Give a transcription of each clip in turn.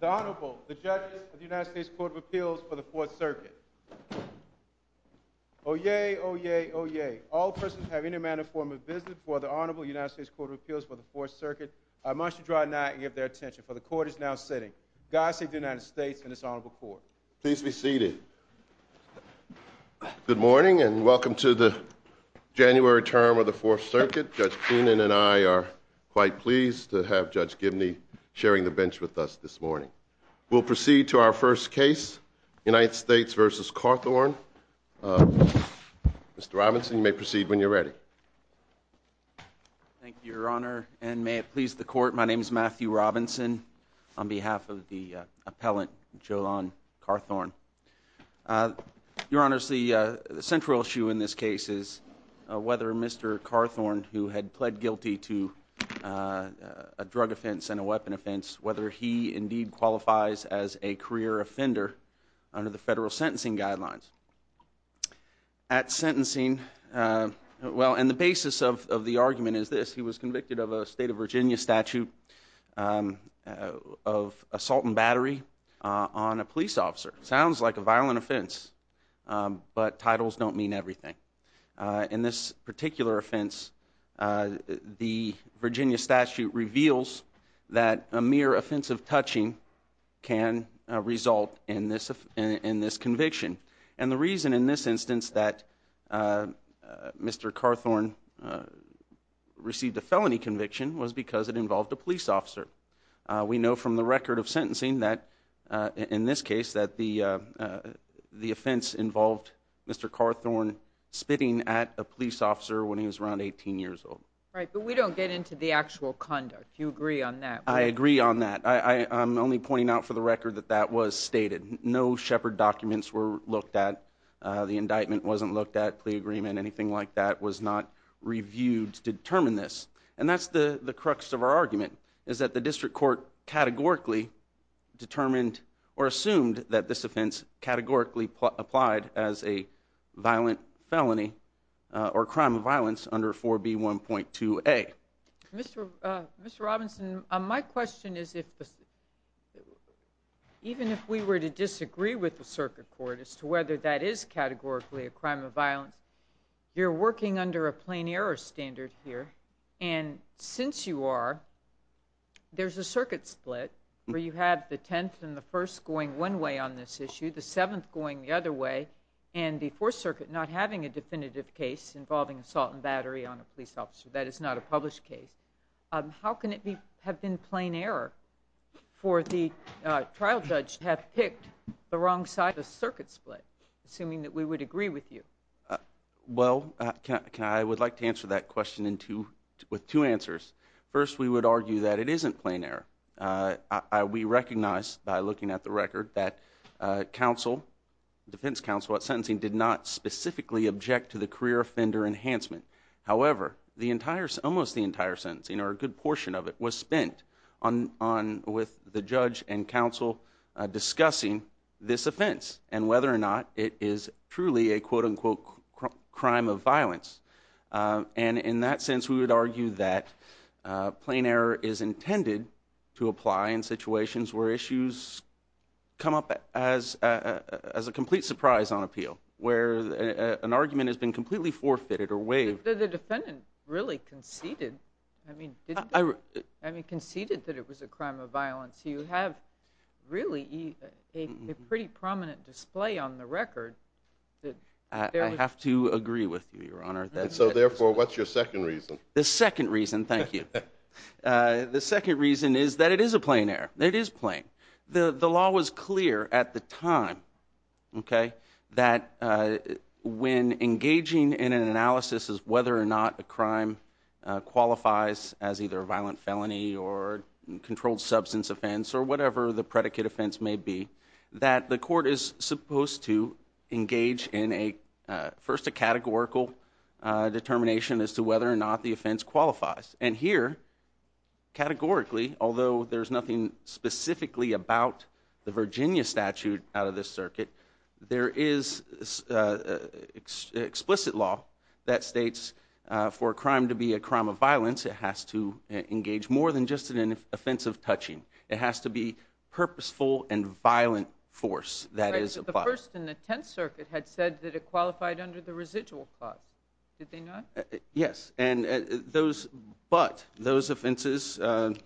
The Honorable, the Judges of the United States Court of Appeals for the Fourth Circuit. Oyez! Oyez! Oyez! All persons who have any manner of form of business before the Honorable United States Court of Appeals for the Fourth Circuit, I must adjourn now and give their attention, for the Court is now sitting. God save the United States and this Honorable Court. Please be seated. Good morning and welcome to the January term of the Fourth Circuit. Judge Keenan and I are quite pleased to have Judge Gibney sharing the bench with us this morning. We'll proceed to our first case, United States v. Carthorne. Mr. Robinson, you may proceed when you're ready. Thank you, Your Honor, and may it please the Court, my name is Matthew Robinson, on behalf of the appellant, Jolon Carthorne. Your Honor, the central issue in this case is whether Mr. Carthorne, who had pled guilty to a drug offense and a weapon offense, whether he indeed qualifies as a career offender under the federal sentencing guidelines. At sentencing, well, and the basis of the argument is this. He was convicted of a state of Virginia statute of assault and battery on a police officer. It sounds like a violent offense, but titles don't mean everything. In this particular offense, the Virginia statute reveals that a mere offensive touching can result in this conviction. And the reason in this instance that Mr. Carthorne received a felony conviction was because it involved a police officer. We know from the record of sentencing that, in this case, that the offense involved Mr. Carthorne spitting at a police officer when he was around 18 years old. Right, but we don't get into the actual conduct. Do you agree on that? I agree on that. I'm only pointing out for the record that that was stated. No Shepard documents were looked at. The indictment wasn't looked at. Plea agreement, anything like that was not reviewed to determine this. And that's the crux of our argument is that the district court categorically determined or assumed that this offense categorically applied as a violent felony or crime of violence under 4B1.2A. Mr. Robinson, my question is, even if we were to disagree with the circuit court as to whether that is categorically a crime of violence, you're working under a plain error standard here. And since you are, there's a circuit split where you have the 10th and the 1st going one way on this issue, the 7th going the other way, and the 4th Circuit not having a definitive case involving assault and battery on a police officer. That is not a published case. How can it have been plain error for the trial judge to have picked the wrong side of the circuit split, assuming that we would agree with you? Well, I would like to answer that question with two answers. First, we would argue that it isn't plain error. We recognize by looking at the record that defense counsel at sentencing did not specifically object to the career offender enhancement. However, almost the entire sentencing, or a good portion of it, was spent with the judge and counsel discussing this offense and whether or not it is truly a quote, unquote, crime of violence. And in that sense, we would argue that plain error is intended to apply in situations where issues come up as a complete surprise on appeal, where an argument has been completely forfeited or waived. The defendant really conceded, I mean, conceded that it was a crime of violence. You have really a pretty prominent display on the record. I have to agree with you, Your Honor. And so therefore, what's your second reason? The second reason, thank you. The second reason is that it is a plain error. It is plain. The law was clear at the time that when engaging in an analysis of whether or not a crime qualifies as either a violent felony or controlled substance offense or whatever the predicate offense may be, that the court is supposed to engage in first a categorical determination as to whether or not the offense qualifies. And here, categorically, although there's nothing specifically about the Virginia statute out of this circuit, there is explicit law that states for a crime to be a crime of violence, it has to engage more than just an offensive touching. It has to be purposeful and violent force that is applied. The First and the Tenth Circuit had said that it qualified under the residual clause. Did they not? Yes. But those offenses... And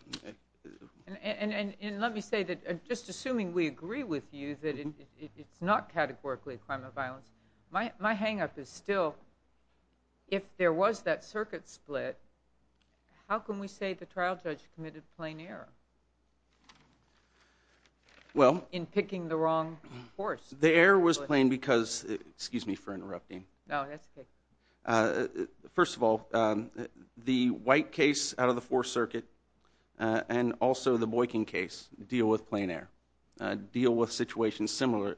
let me say that, just assuming we agree with you that it's not categorically a crime of violence, my hang-up is still, if there was that circuit split, how can we say the trial judge committed a plain error in picking the wrong horse? The error was plain because, excuse me for interrupting. No, that's okay. First of all, the White case out of the Fourth Circuit and also the Boykin case deal with plain error, deal with situations similar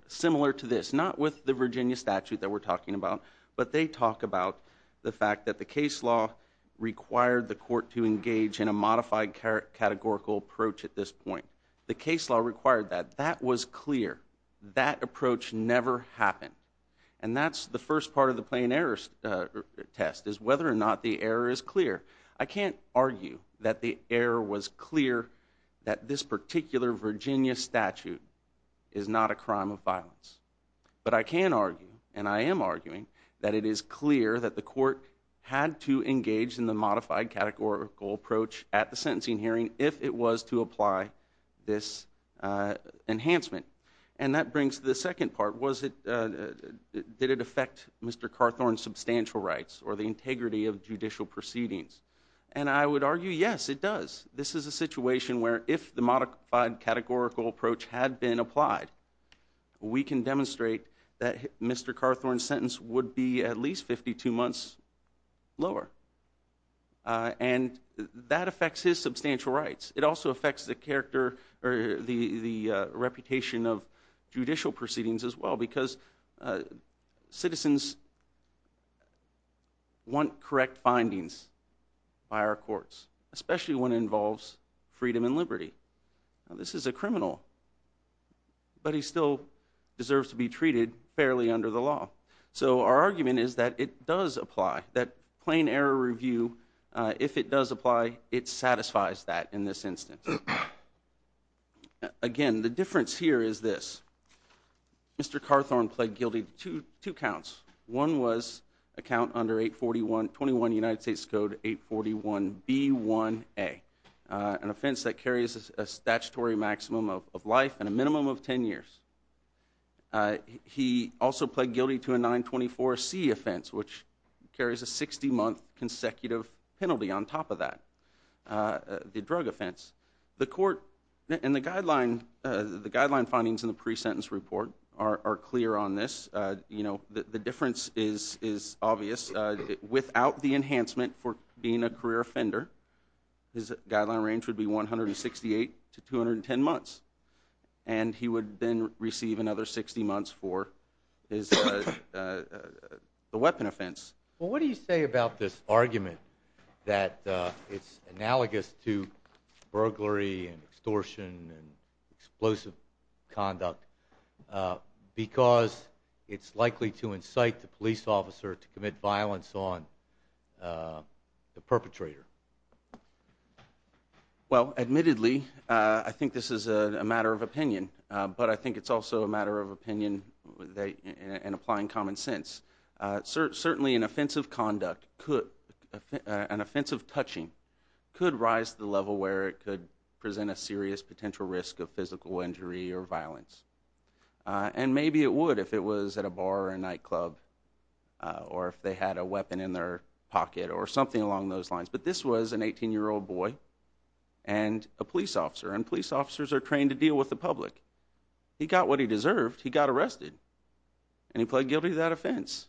to this, not with the Virginia statute that we're talking about, but they talk about the fact that the case law required the court to engage in a modified categorical approach at this point. The case law required that. That was clear. That approach never happened. And that's the first part of the plain error test, is whether or not the error is clear. I can't argue that the error was clear that this particular Virginia statute is not a crime of violence. But I can argue, and I am arguing, that it is clear that the court had to engage in the modified categorical approach at the sentencing hearing if it was to apply this enhancement. And that brings the second part, did it affect Mr. Carthorne's substantial rights or the integrity of judicial proceedings? And I would argue, yes, it does. This is a situation where if the modified categorical approach had been applied, we can demonstrate that Mr. Carthorne's sentence would be at least 52 months lower. And that affects his substantial rights. It also affects the reputation of judicial proceedings as well, because citizens want correct findings by our courts, especially when it involves freedom and liberty. This is a criminal, but he still deserves to be treated fairly under the law. So our argument is that it does apply, that plain error review, if it does apply, it satisfies that in this instance. Again, the difference here is this. Mr. Carthorne pled guilty to two counts. One was a count under 841, 21 United States Code 841B1A, an offense that carries a statutory maximum of life and a minimum of 10 years. He also pled guilty to a 924C offense, which carries a 60-month consecutive penalty on the drug offense. The court and the guideline findings in the pre-sentence report are clear on this. The difference is obvious. Without the enhancement for being a career offender, his guideline range would be 168 to 210 months. And he would then receive another 60 months for the weapon offense. Well, what do you say about this argument that it's analogous to burglary and extortion and explosive conduct because it's likely to incite the police officer to commit violence on the perpetrator? Well, admittedly, I think this is a matter of opinion. But I think it's also a matter of opinion and applying common sense. Certainly an offensive conduct, an offensive touching could rise to the level where it could present a serious potential risk of physical injury or violence. And maybe it would if it was at a bar or a nightclub or if they had a weapon in their pocket or something along those lines. But this was an 18-year-old boy and a police officer. And police officers are trained to deal with the public. He got what he deserved. He got arrested. And he pled guilty to that offense.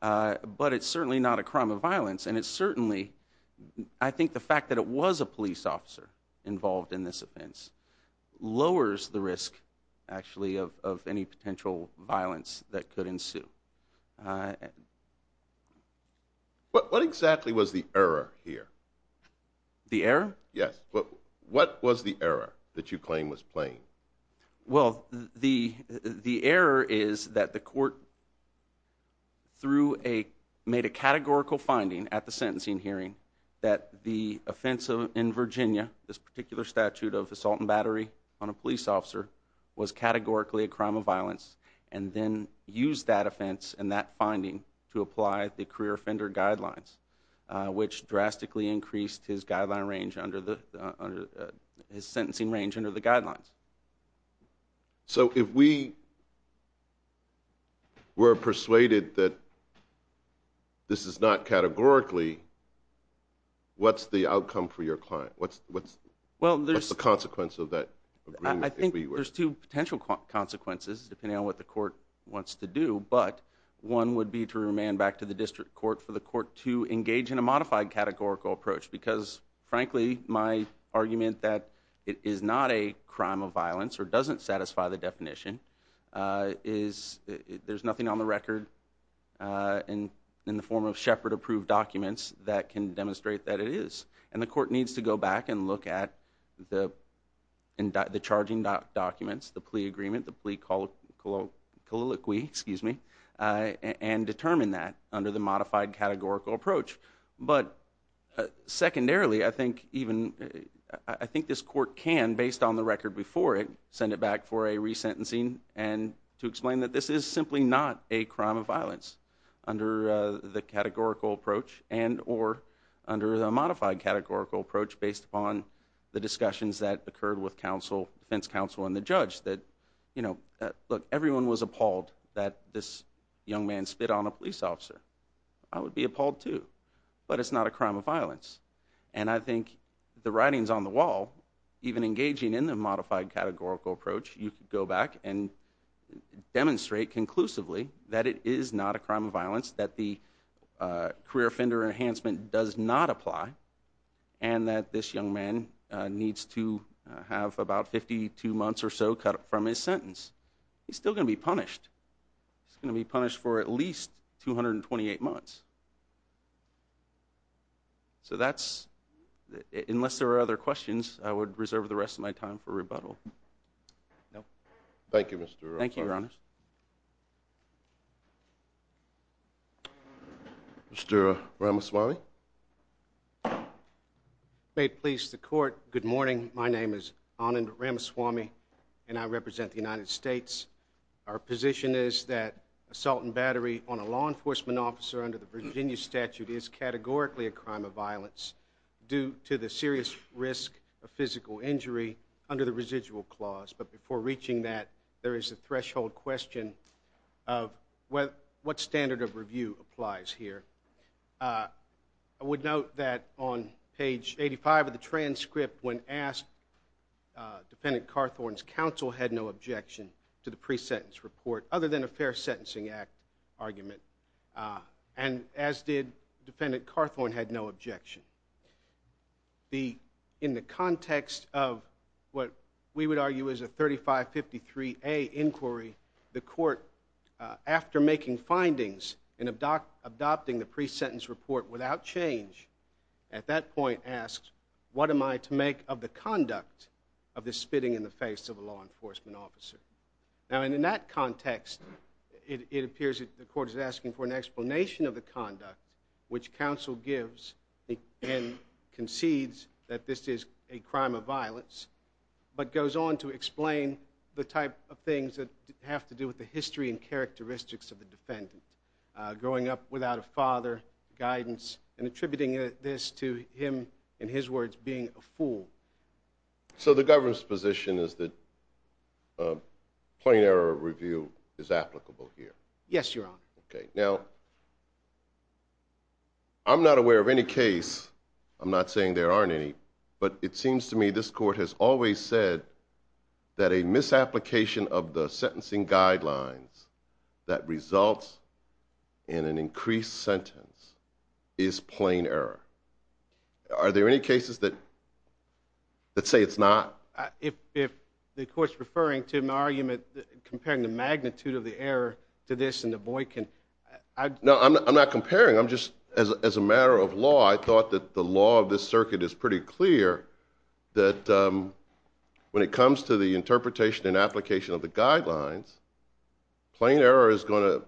But it's certainly not a crime of violence. And it certainly, I think the fact that it was a police officer involved in this offense lowers the risk, actually, of any potential violence that could ensue. What exactly was the error here? The error? Yes. What was the error that you claim was plain? Well, the error is that the court made a categorical finding at the sentencing hearing that the offense in Virginia, this particular statute of assault and battery on a police officer, was categorically a crime of violence and then used that offense and that finding to apply the career offender guidelines, which drastically increased his sentencing range under the guidelines. So if we were persuaded that this is not categorically, what's the outcome for your client? What's the consequence of that agreement? I think there's two potential consequences, depending on what the court wants to do. But one would be to remand back to the district court for the court to engage in a modified categorical approach. Because, frankly, my argument that it is not a crime of violence or doesn't satisfy the definition is there's nothing on the record in the form of Shepard-approved documents that can demonstrate that it is. And the court needs to go back and look at the charging documents, the plea agreement, the plea colloquy, and determine that under the modified categorical approach. But secondarily, I think this court can, based on the record before it, send it back for a resentencing and to explain that this is simply not a crime of violence under the categorical approach and or under the modified categorical approach based upon the discussions that occurred with defense counsel and the judge. That, look, everyone was appalled that this young man spit on a police officer. I would be appalled, too. But it's not a crime of violence. And I think the writing's on the wall. Even engaging in the modified categorical approach, you could go back and demonstrate conclusively that it is not a crime of violence, that the career offender enhancement does not apply, and that this young man needs to have about 52 months or so cut from his sentence. He's still going to be punished. He's going to be punished for at least 228 months. So that's, unless there are other questions, I would reserve the rest of my time for rebuttal. No? Thank you, Mr. Ramaswamy. Thank you, Your Honor. Mr. Ramaswamy. Made police the court. Good morning. My name is Anand Ramaswamy, and I represent the United States. Our position is that assault and battery on a law enforcement officer under the Virginia statute is categorically a crime of violence due to the serious risk of physical injury under the residual clause. But before reaching that, there is a threshold question of what standard of review applies here. I would note that on page 85 of the transcript, when asked, Defendant Carthorne's counsel had no objection to the pre-sentence report other than a fair sentencing act argument, and as did Defendant Carthorne had no objection. In the context of what we would argue is a 3553A inquiry, the court, after making findings and adopting the pre-sentence report without change, at that point asked, what am I to in the face of a law enforcement officer? Now, in that context, it appears that the court is asking for an explanation of the conduct which counsel gives and concedes that this is a crime of violence, but goes on to explain the type of things that have to do with the history and characteristics of the defendant, growing up without a father, guidance, and attributing this to him, in his words, being a fool. So the government's position is that plain error review is applicable here? Yes, Your Honor. Okay, now, I'm not aware of any case, I'm not saying there aren't any, but it seems to me this court has always said that a misapplication of the sentencing guidelines that results in an increased sentence is plain error. Are there any cases that say it's not? If the court's referring to my argument, comparing the magnitude of the error to this and the Boykin... No, I'm not comparing, I'm just, as a matter of law, I thought that the law of this circuit is pretty clear that when it comes to the interpretation and application of the guidelines, plain error is going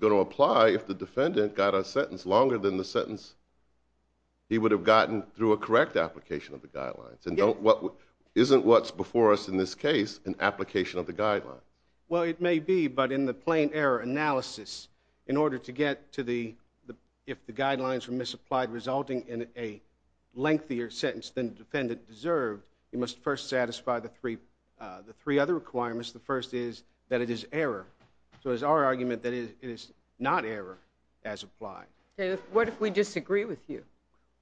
to apply if the defendant got a sentence longer than the sentence he would have gotten through a correct application of the guidelines. Isn't what's before us in this case an application of the guidelines? Well, it may be, but in the plain error analysis, in order to get to the, if the guidelines were misapplied resulting in a lengthier sentence than the defendant deserved, you must first So it's our argument that it is not error as applied. What if we disagree with you?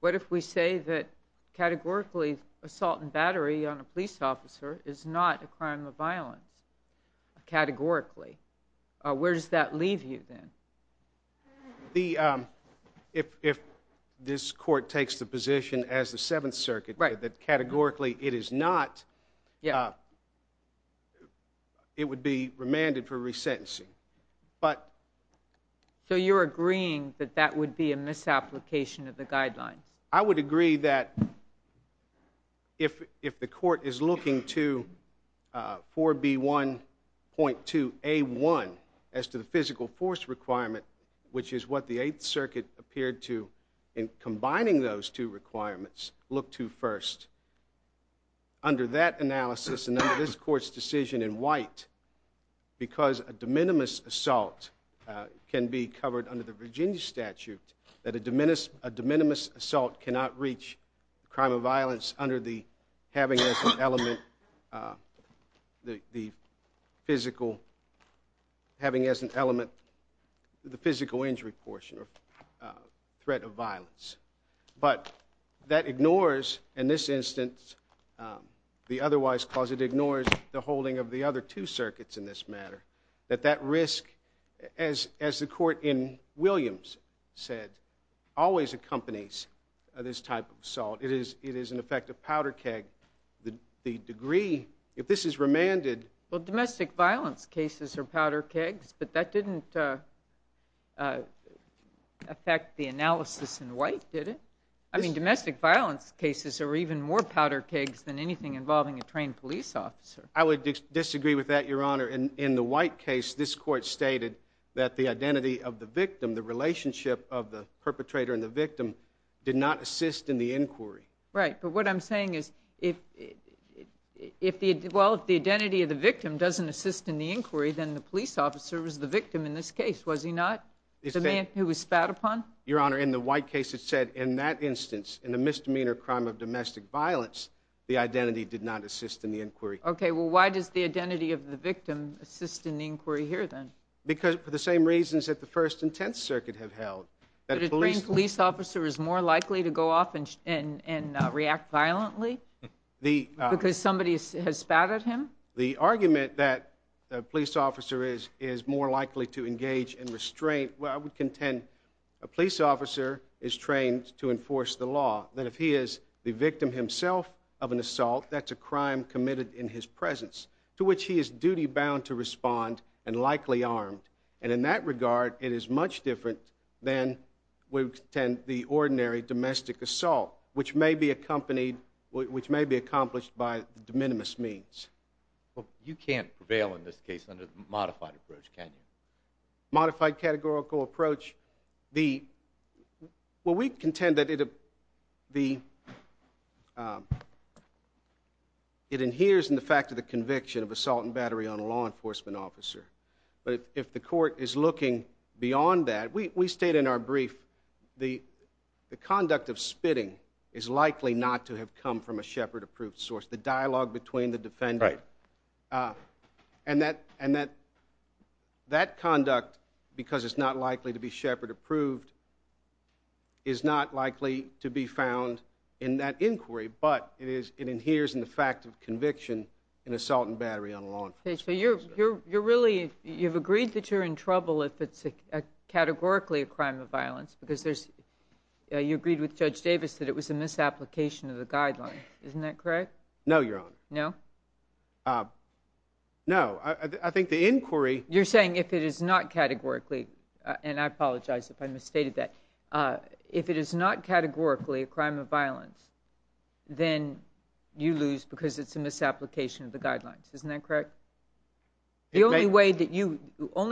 What if we say that, categorically, assault and battery on a police officer is not a crime of violence, categorically? Where does that leave you then? The, if this court takes the position as the Seventh Circuit, that categorically it is not, it would be remanded for resentencing, but So you're agreeing that that would be a misapplication of the guidelines? I would agree that if the court is looking to 4B1.2A1, as to the physical force requirement, which is what the Eighth Circuit appeared to, in combining those two requirements, look to first, under that analysis and under this court's decision in white, because a de minimis assault can be covered under the Virginia statute, that a de minimis assault cannot reach crime of violence under the having as an element the physical, having as an element the physical injury portion or threat of violence. But that ignores, in this instance, the otherwise clause, it ignores the holding of the other two circuits in this matter, that that risk, as the court in Williams said, always accompanies this type of assault. It is in effect a powder keg. The degree, if this is remanded Well, domestic violence cases are powder kegs, but that didn't affect the analysis in white, did it? I mean, domestic violence cases are even more powder kegs than anything involving a trained police officer. I would disagree with that, Your Honor. In the white case, this court stated that the identity of the victim, the relationship of the perpetrator and the victim, did not assist in the inquiry. Right, but what I'm saying is, well, if the identity of the victim doesn't assist in the inquiry, then the police officer was the victim in this case, was he not? The man who was spat upon? Your Honor, in the white case, it said, in that instance, in the misdemeanor crime of domestic violence, the identity did not assist in the inquiry. Okay, well, why does the identity of the victim assist in the inquiry here, then? Because, for the same reasons that the First and Tenth Circuit have held. That a trained police officer is more likely to go off and react violently? Because somebody has spat at him? The argument that a police officer is more likely to engage in restraint, well, I would contend, a police officer is trained to enforce the law, that if he is the victim himself of an assault, that's a crime committed in his presence, to which he is duty-bound to respond and likely armed. And in that regard, it is much different than, we contend, the ordinary domestic assault, which may be accompanied, which may be accomplished by de minimis means. Well, you can't prevail in this case under the modified approach, can you? Modified categorical approach. Well, we contend that it inheres in the fact of the conviction of assault and battery on a law enforcement officer. But if the court is looking beyond that, we state in our brief, the conduct of spitting is likely not to have come from a Shepard-approved source. The dialogue between the defendant. Right. And that conduct, because it's not likely to be Shepard-approved, is not likely to be found in that inquiry, but it inheres in the fact of conviction in assault and battery on a law enforcement officer. So you're really, you've agreed that you're in trouble if it's categorically a crime of violence, because you agreed with Judge Davis that it was a misapplication of the guidelines. Isn't that correct? No, Your Honor. No? No. I think the inquiry. You're saying if it is not categorically, and I apologize if I misstated that, if it is not categorically a crime of violence, then you lose because it's a misapplication of the guidelines. Isn't that correct? The only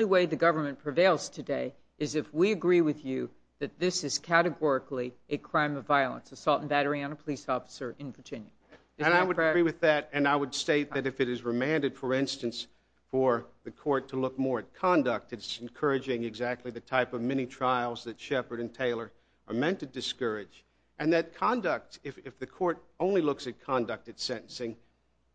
way the government prevails today is if we agree with you that this is categorically a crime of violence, assault and battery on a police officer in Virginia. Isn't that correct? And I would agree with that, and I would state that if it is remanded, for instance, for the court to look more at conduct, it's encouraging exactly the type of mini-trials that Shepard and Taylor are meant to discourage. And that conduct, if the court only looks at conduct at sentencing,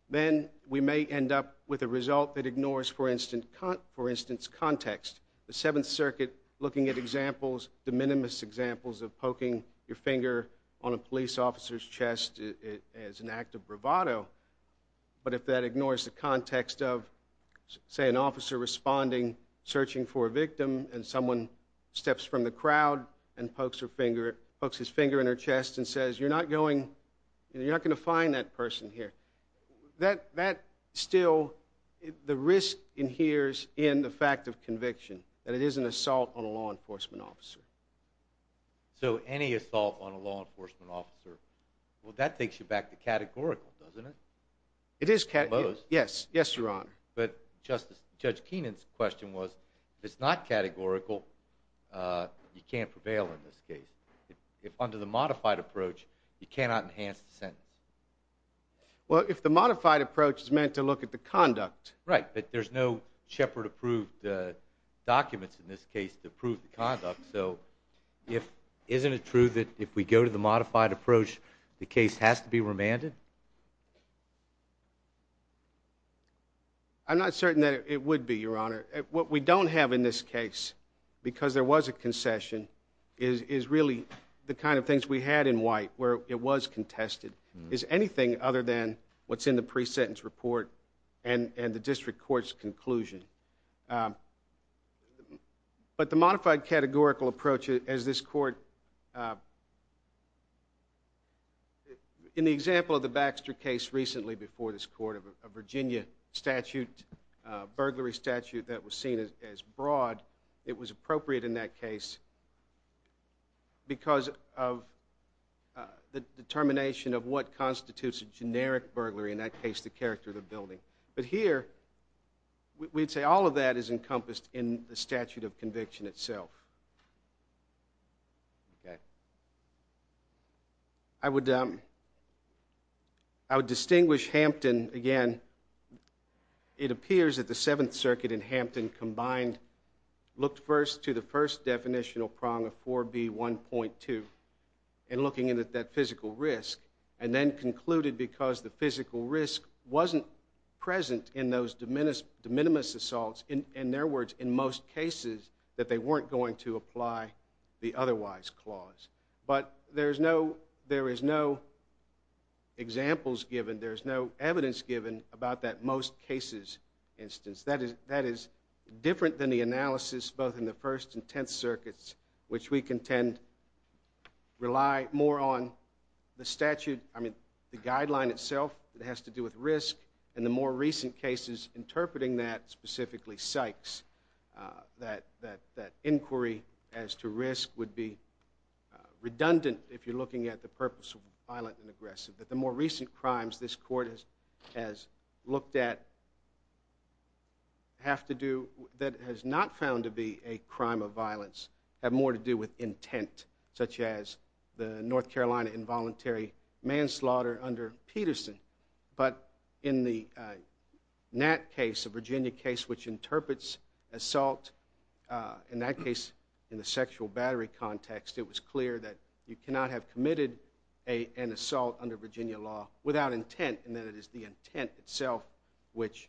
then we may end up with a result that ignores, for instance, context. The Seventh Circuit looking at examples, de minimis examples of poking your finger on a police officer's chest as an act of bravado, but if that ignores the context of, say, an officer responding, searching for a victim, and someone steps from the crowd and pokes his finger in her chest and says, you're not going to find that person here, that still, the risk adheres in the fact of conviction, that it is an assault on a law enforcement officer. So any assault on a law enforcement officer, well, that takes you back to categorical, doesn't it? It is categorical, yes, Your Honor. But Judge Keenan's question was, if it's not categorical, you can't prevail in this case. If under the modified approach, you cannot enhance the sentence. Well, if the modified approach is meant to look at the conduct. Right, but there's no Shepard-approved documents in this case to prove the conduct, so isn't it true that if we go to the modified approach, the case has to be remanded? I'm not certain that it would be, Your Honor. What we don't have in this case, because there was a concession, is really the kind of things we had in White, where it was contested, is anything other than what's in the pre-sentence report and the district court's conclusion. But the modified categorical approach, as this court, in the example of the Baxter case recently before this court, a Virginia statute, burglary statute that was seen as broad, it was appropriate in that case because of the determination of what constitutes a generic burglary, in that case the character of the building. But here, we'd say all of that is encompassed in the statute of conviction itself. Okay. I would distinguish Hampton, again, it appears that the Seventh Circuit and Hampton combined, looked first to the first definitional prong of 4B1.2, and looking at that physical risk, and then concluded because the physical risk wasn't present in those de minimis assaults, in their words, in most cases, that they weren't going to apply the otherwise clause. But there is no examples given, there is no evidence given about that most cases instance. That is different than the analysis both in the First and Tenth Circuits, which we contend rely more on the statute, I mean, the guideline itself that has to do with risk, and the more recent cases interpreting that, specifically Sykes, that inquiry as to risk would be redundant if you're looking at the purpose of violent and aggressive. But the more recent crimes this court has looked at have to do, that has not found to be a crime of violence, have more to do with intent, such as the North Carolina involuntary manslaughter under Peterson. But in the Nat case, a Virginia case which interprets assault, in that case, in the sexual battery context, it was clear that you cannot have committed an assault under Virginia law without intent, and that it is the intent itself which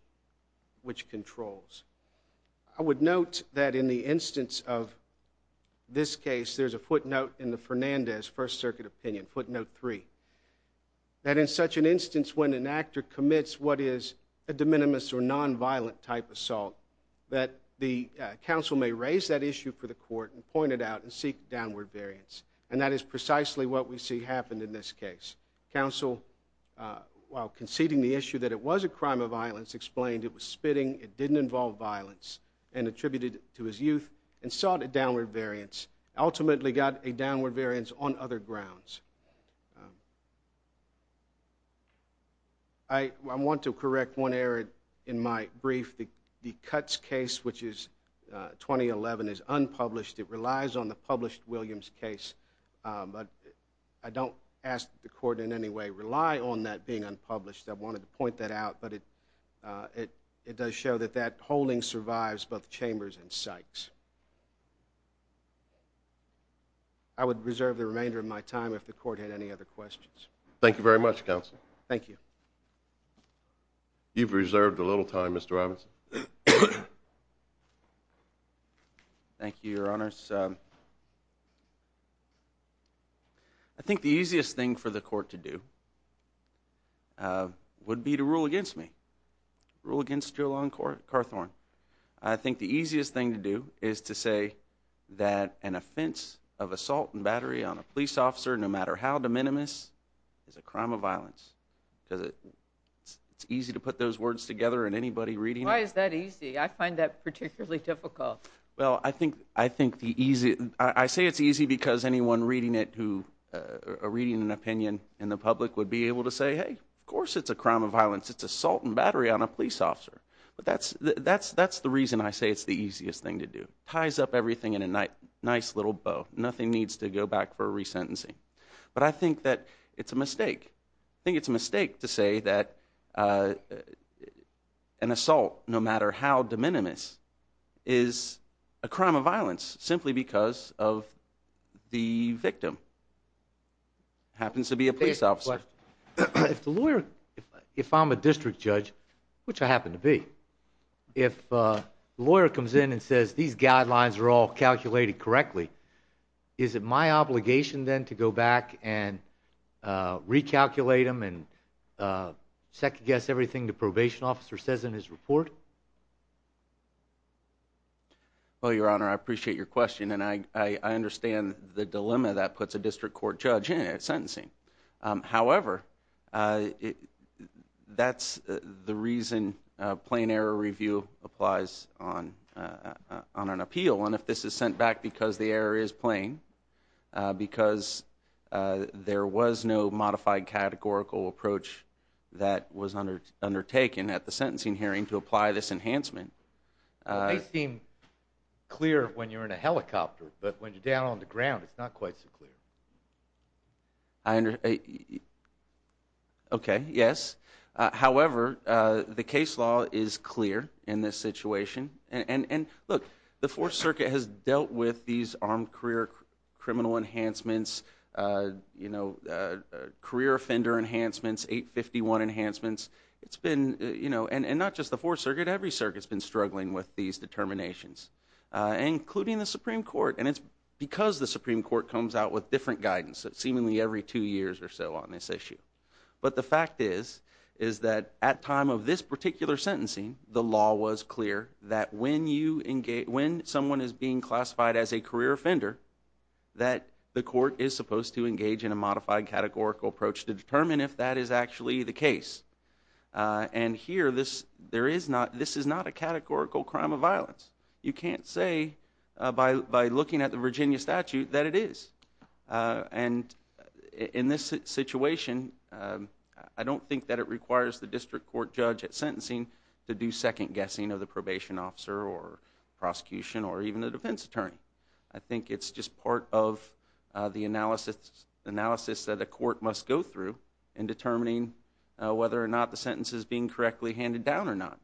controls. I would note that in the instance of this case, there's a footnote in the Fernandez First Circuit opinion, footnote 3, that in such an instance when an actor commits what is a de minimis or nonviolent type assault, that the counsel may raise that issue for the court and point it out and seek downward variance. And that is precisely what we see happen in this case. Counsel, while conceding the issue that it was a crime of violence, explained it was spitting, it didn't involve violence, and attributed it to his youth, and sought a downward variance. Ultimately got a downward variance on other grounds. I want to correct one error in my brief. The Cutts case, which is 2011, is unpublished. It relies on the published Williams case, but I don't ask the court in any way rely on that being unpublished. I wanted to point that out, but it does show that that holding survives both Chambers and Sykes. I would reserve the remainder of my time if the court had any other questions. Thank you very much, Counsel. Thank you. You've reserved a little time, Mr. Robinson. Thank you, Your Honors. I think the easiest thing for the court to do would be to rule against me, rule against Julen Carthorne. I think the easiest thing to do is to say that an offense of assault and battery on a police officer, no matter how de minimis, is a crime of violence. It's easy to put those words together in anybody reading it. Why is that easy? I find that particularly difficult. Well, I say it's easy because anyone reading an opinion in the public would be able to say, hey, of course it's a crime of violence. It's assault and battery on a police officer. But that's the reason I say it's the easiest thing to do. It ties up everything in a nice little bow. Nothing needs to go back for a resentencing. But I think that it's a mistake. I think it's a mistake to say that an assault, no matter how de minimis, is a crime of violence simply because of the victim happens to be a police officer. If the lawyer, if I'm a district judge, which I happen to be, if the lawyer comes in and says these guidelines are all calculated correctly, is it my obligation then to go back and recalculate them and second guess everything the probation officer says in his report? Well, Your Honor, I appreciate your question, and I understand the dilemma that puts a district court judge in at sentencing. However, that's the reason plain error review applies on an appeal. And if this is sent back because the error is plain, because there was no modified categorical approach that was undertaken at the sentencing hearing to apply this enhancement. It may seem clear when you're in a helicopter, but when you're down on the ground, it's not quite so clear. Okay, yes. However, the case law is clear in this situation. And look, the Fourth Circuit has dealt with these armed career criminal enhancements, career offender enhancements, 851 enhancements. And not just the Fourth Circuit, every circuit's been struggling with these determinations, including the Supreme Court. And it's because the Supreme Court comes out with different guidance seemingly every two years or so on this issue. But the fact is, is that at time of this particular sentencing, the law was clear that when someone is being classified as a career offender, that the court is supposed to engage in a modified categorical approach to determine if that is actually the case. And here, this is not a categorical crime of violence. You can't say by looking at the Virginia statute that it is. And in this situation, I don't think that it requires the district court judge at sentencing to do second-guessing of the probation officer or prosecution or even a defense attorney. I think it's just part of the analysis that a court must go through in determining whether or not the sentence is being correctly handed down or not.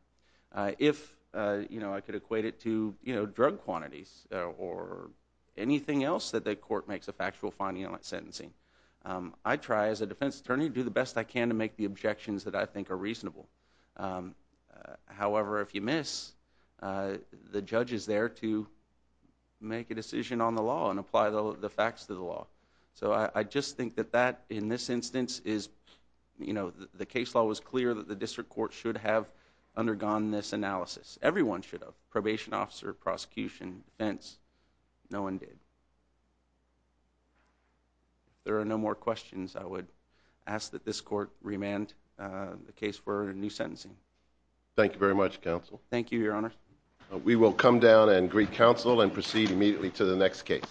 If I could equate it to drug quantities or anything else that the court makes a factual finding on at sentencing, I try as a defense attorney to do the best I can to make the objections that I think are reasonable. However, if you miss, the judge is there to make a decision on the law and apply the facts to the law. So I just think that that in this instance is, you know, the case law was clear that the district court should have undergone this analysis. Everyone should have. Probation officer, prosecution, defense. No one did. If there are no more questions, I would ask that this court remand the case for a new sentencing. Thank you very much, counsel. Thank you, your honor. We will come down and greet counsel and proceed immediately to the next case.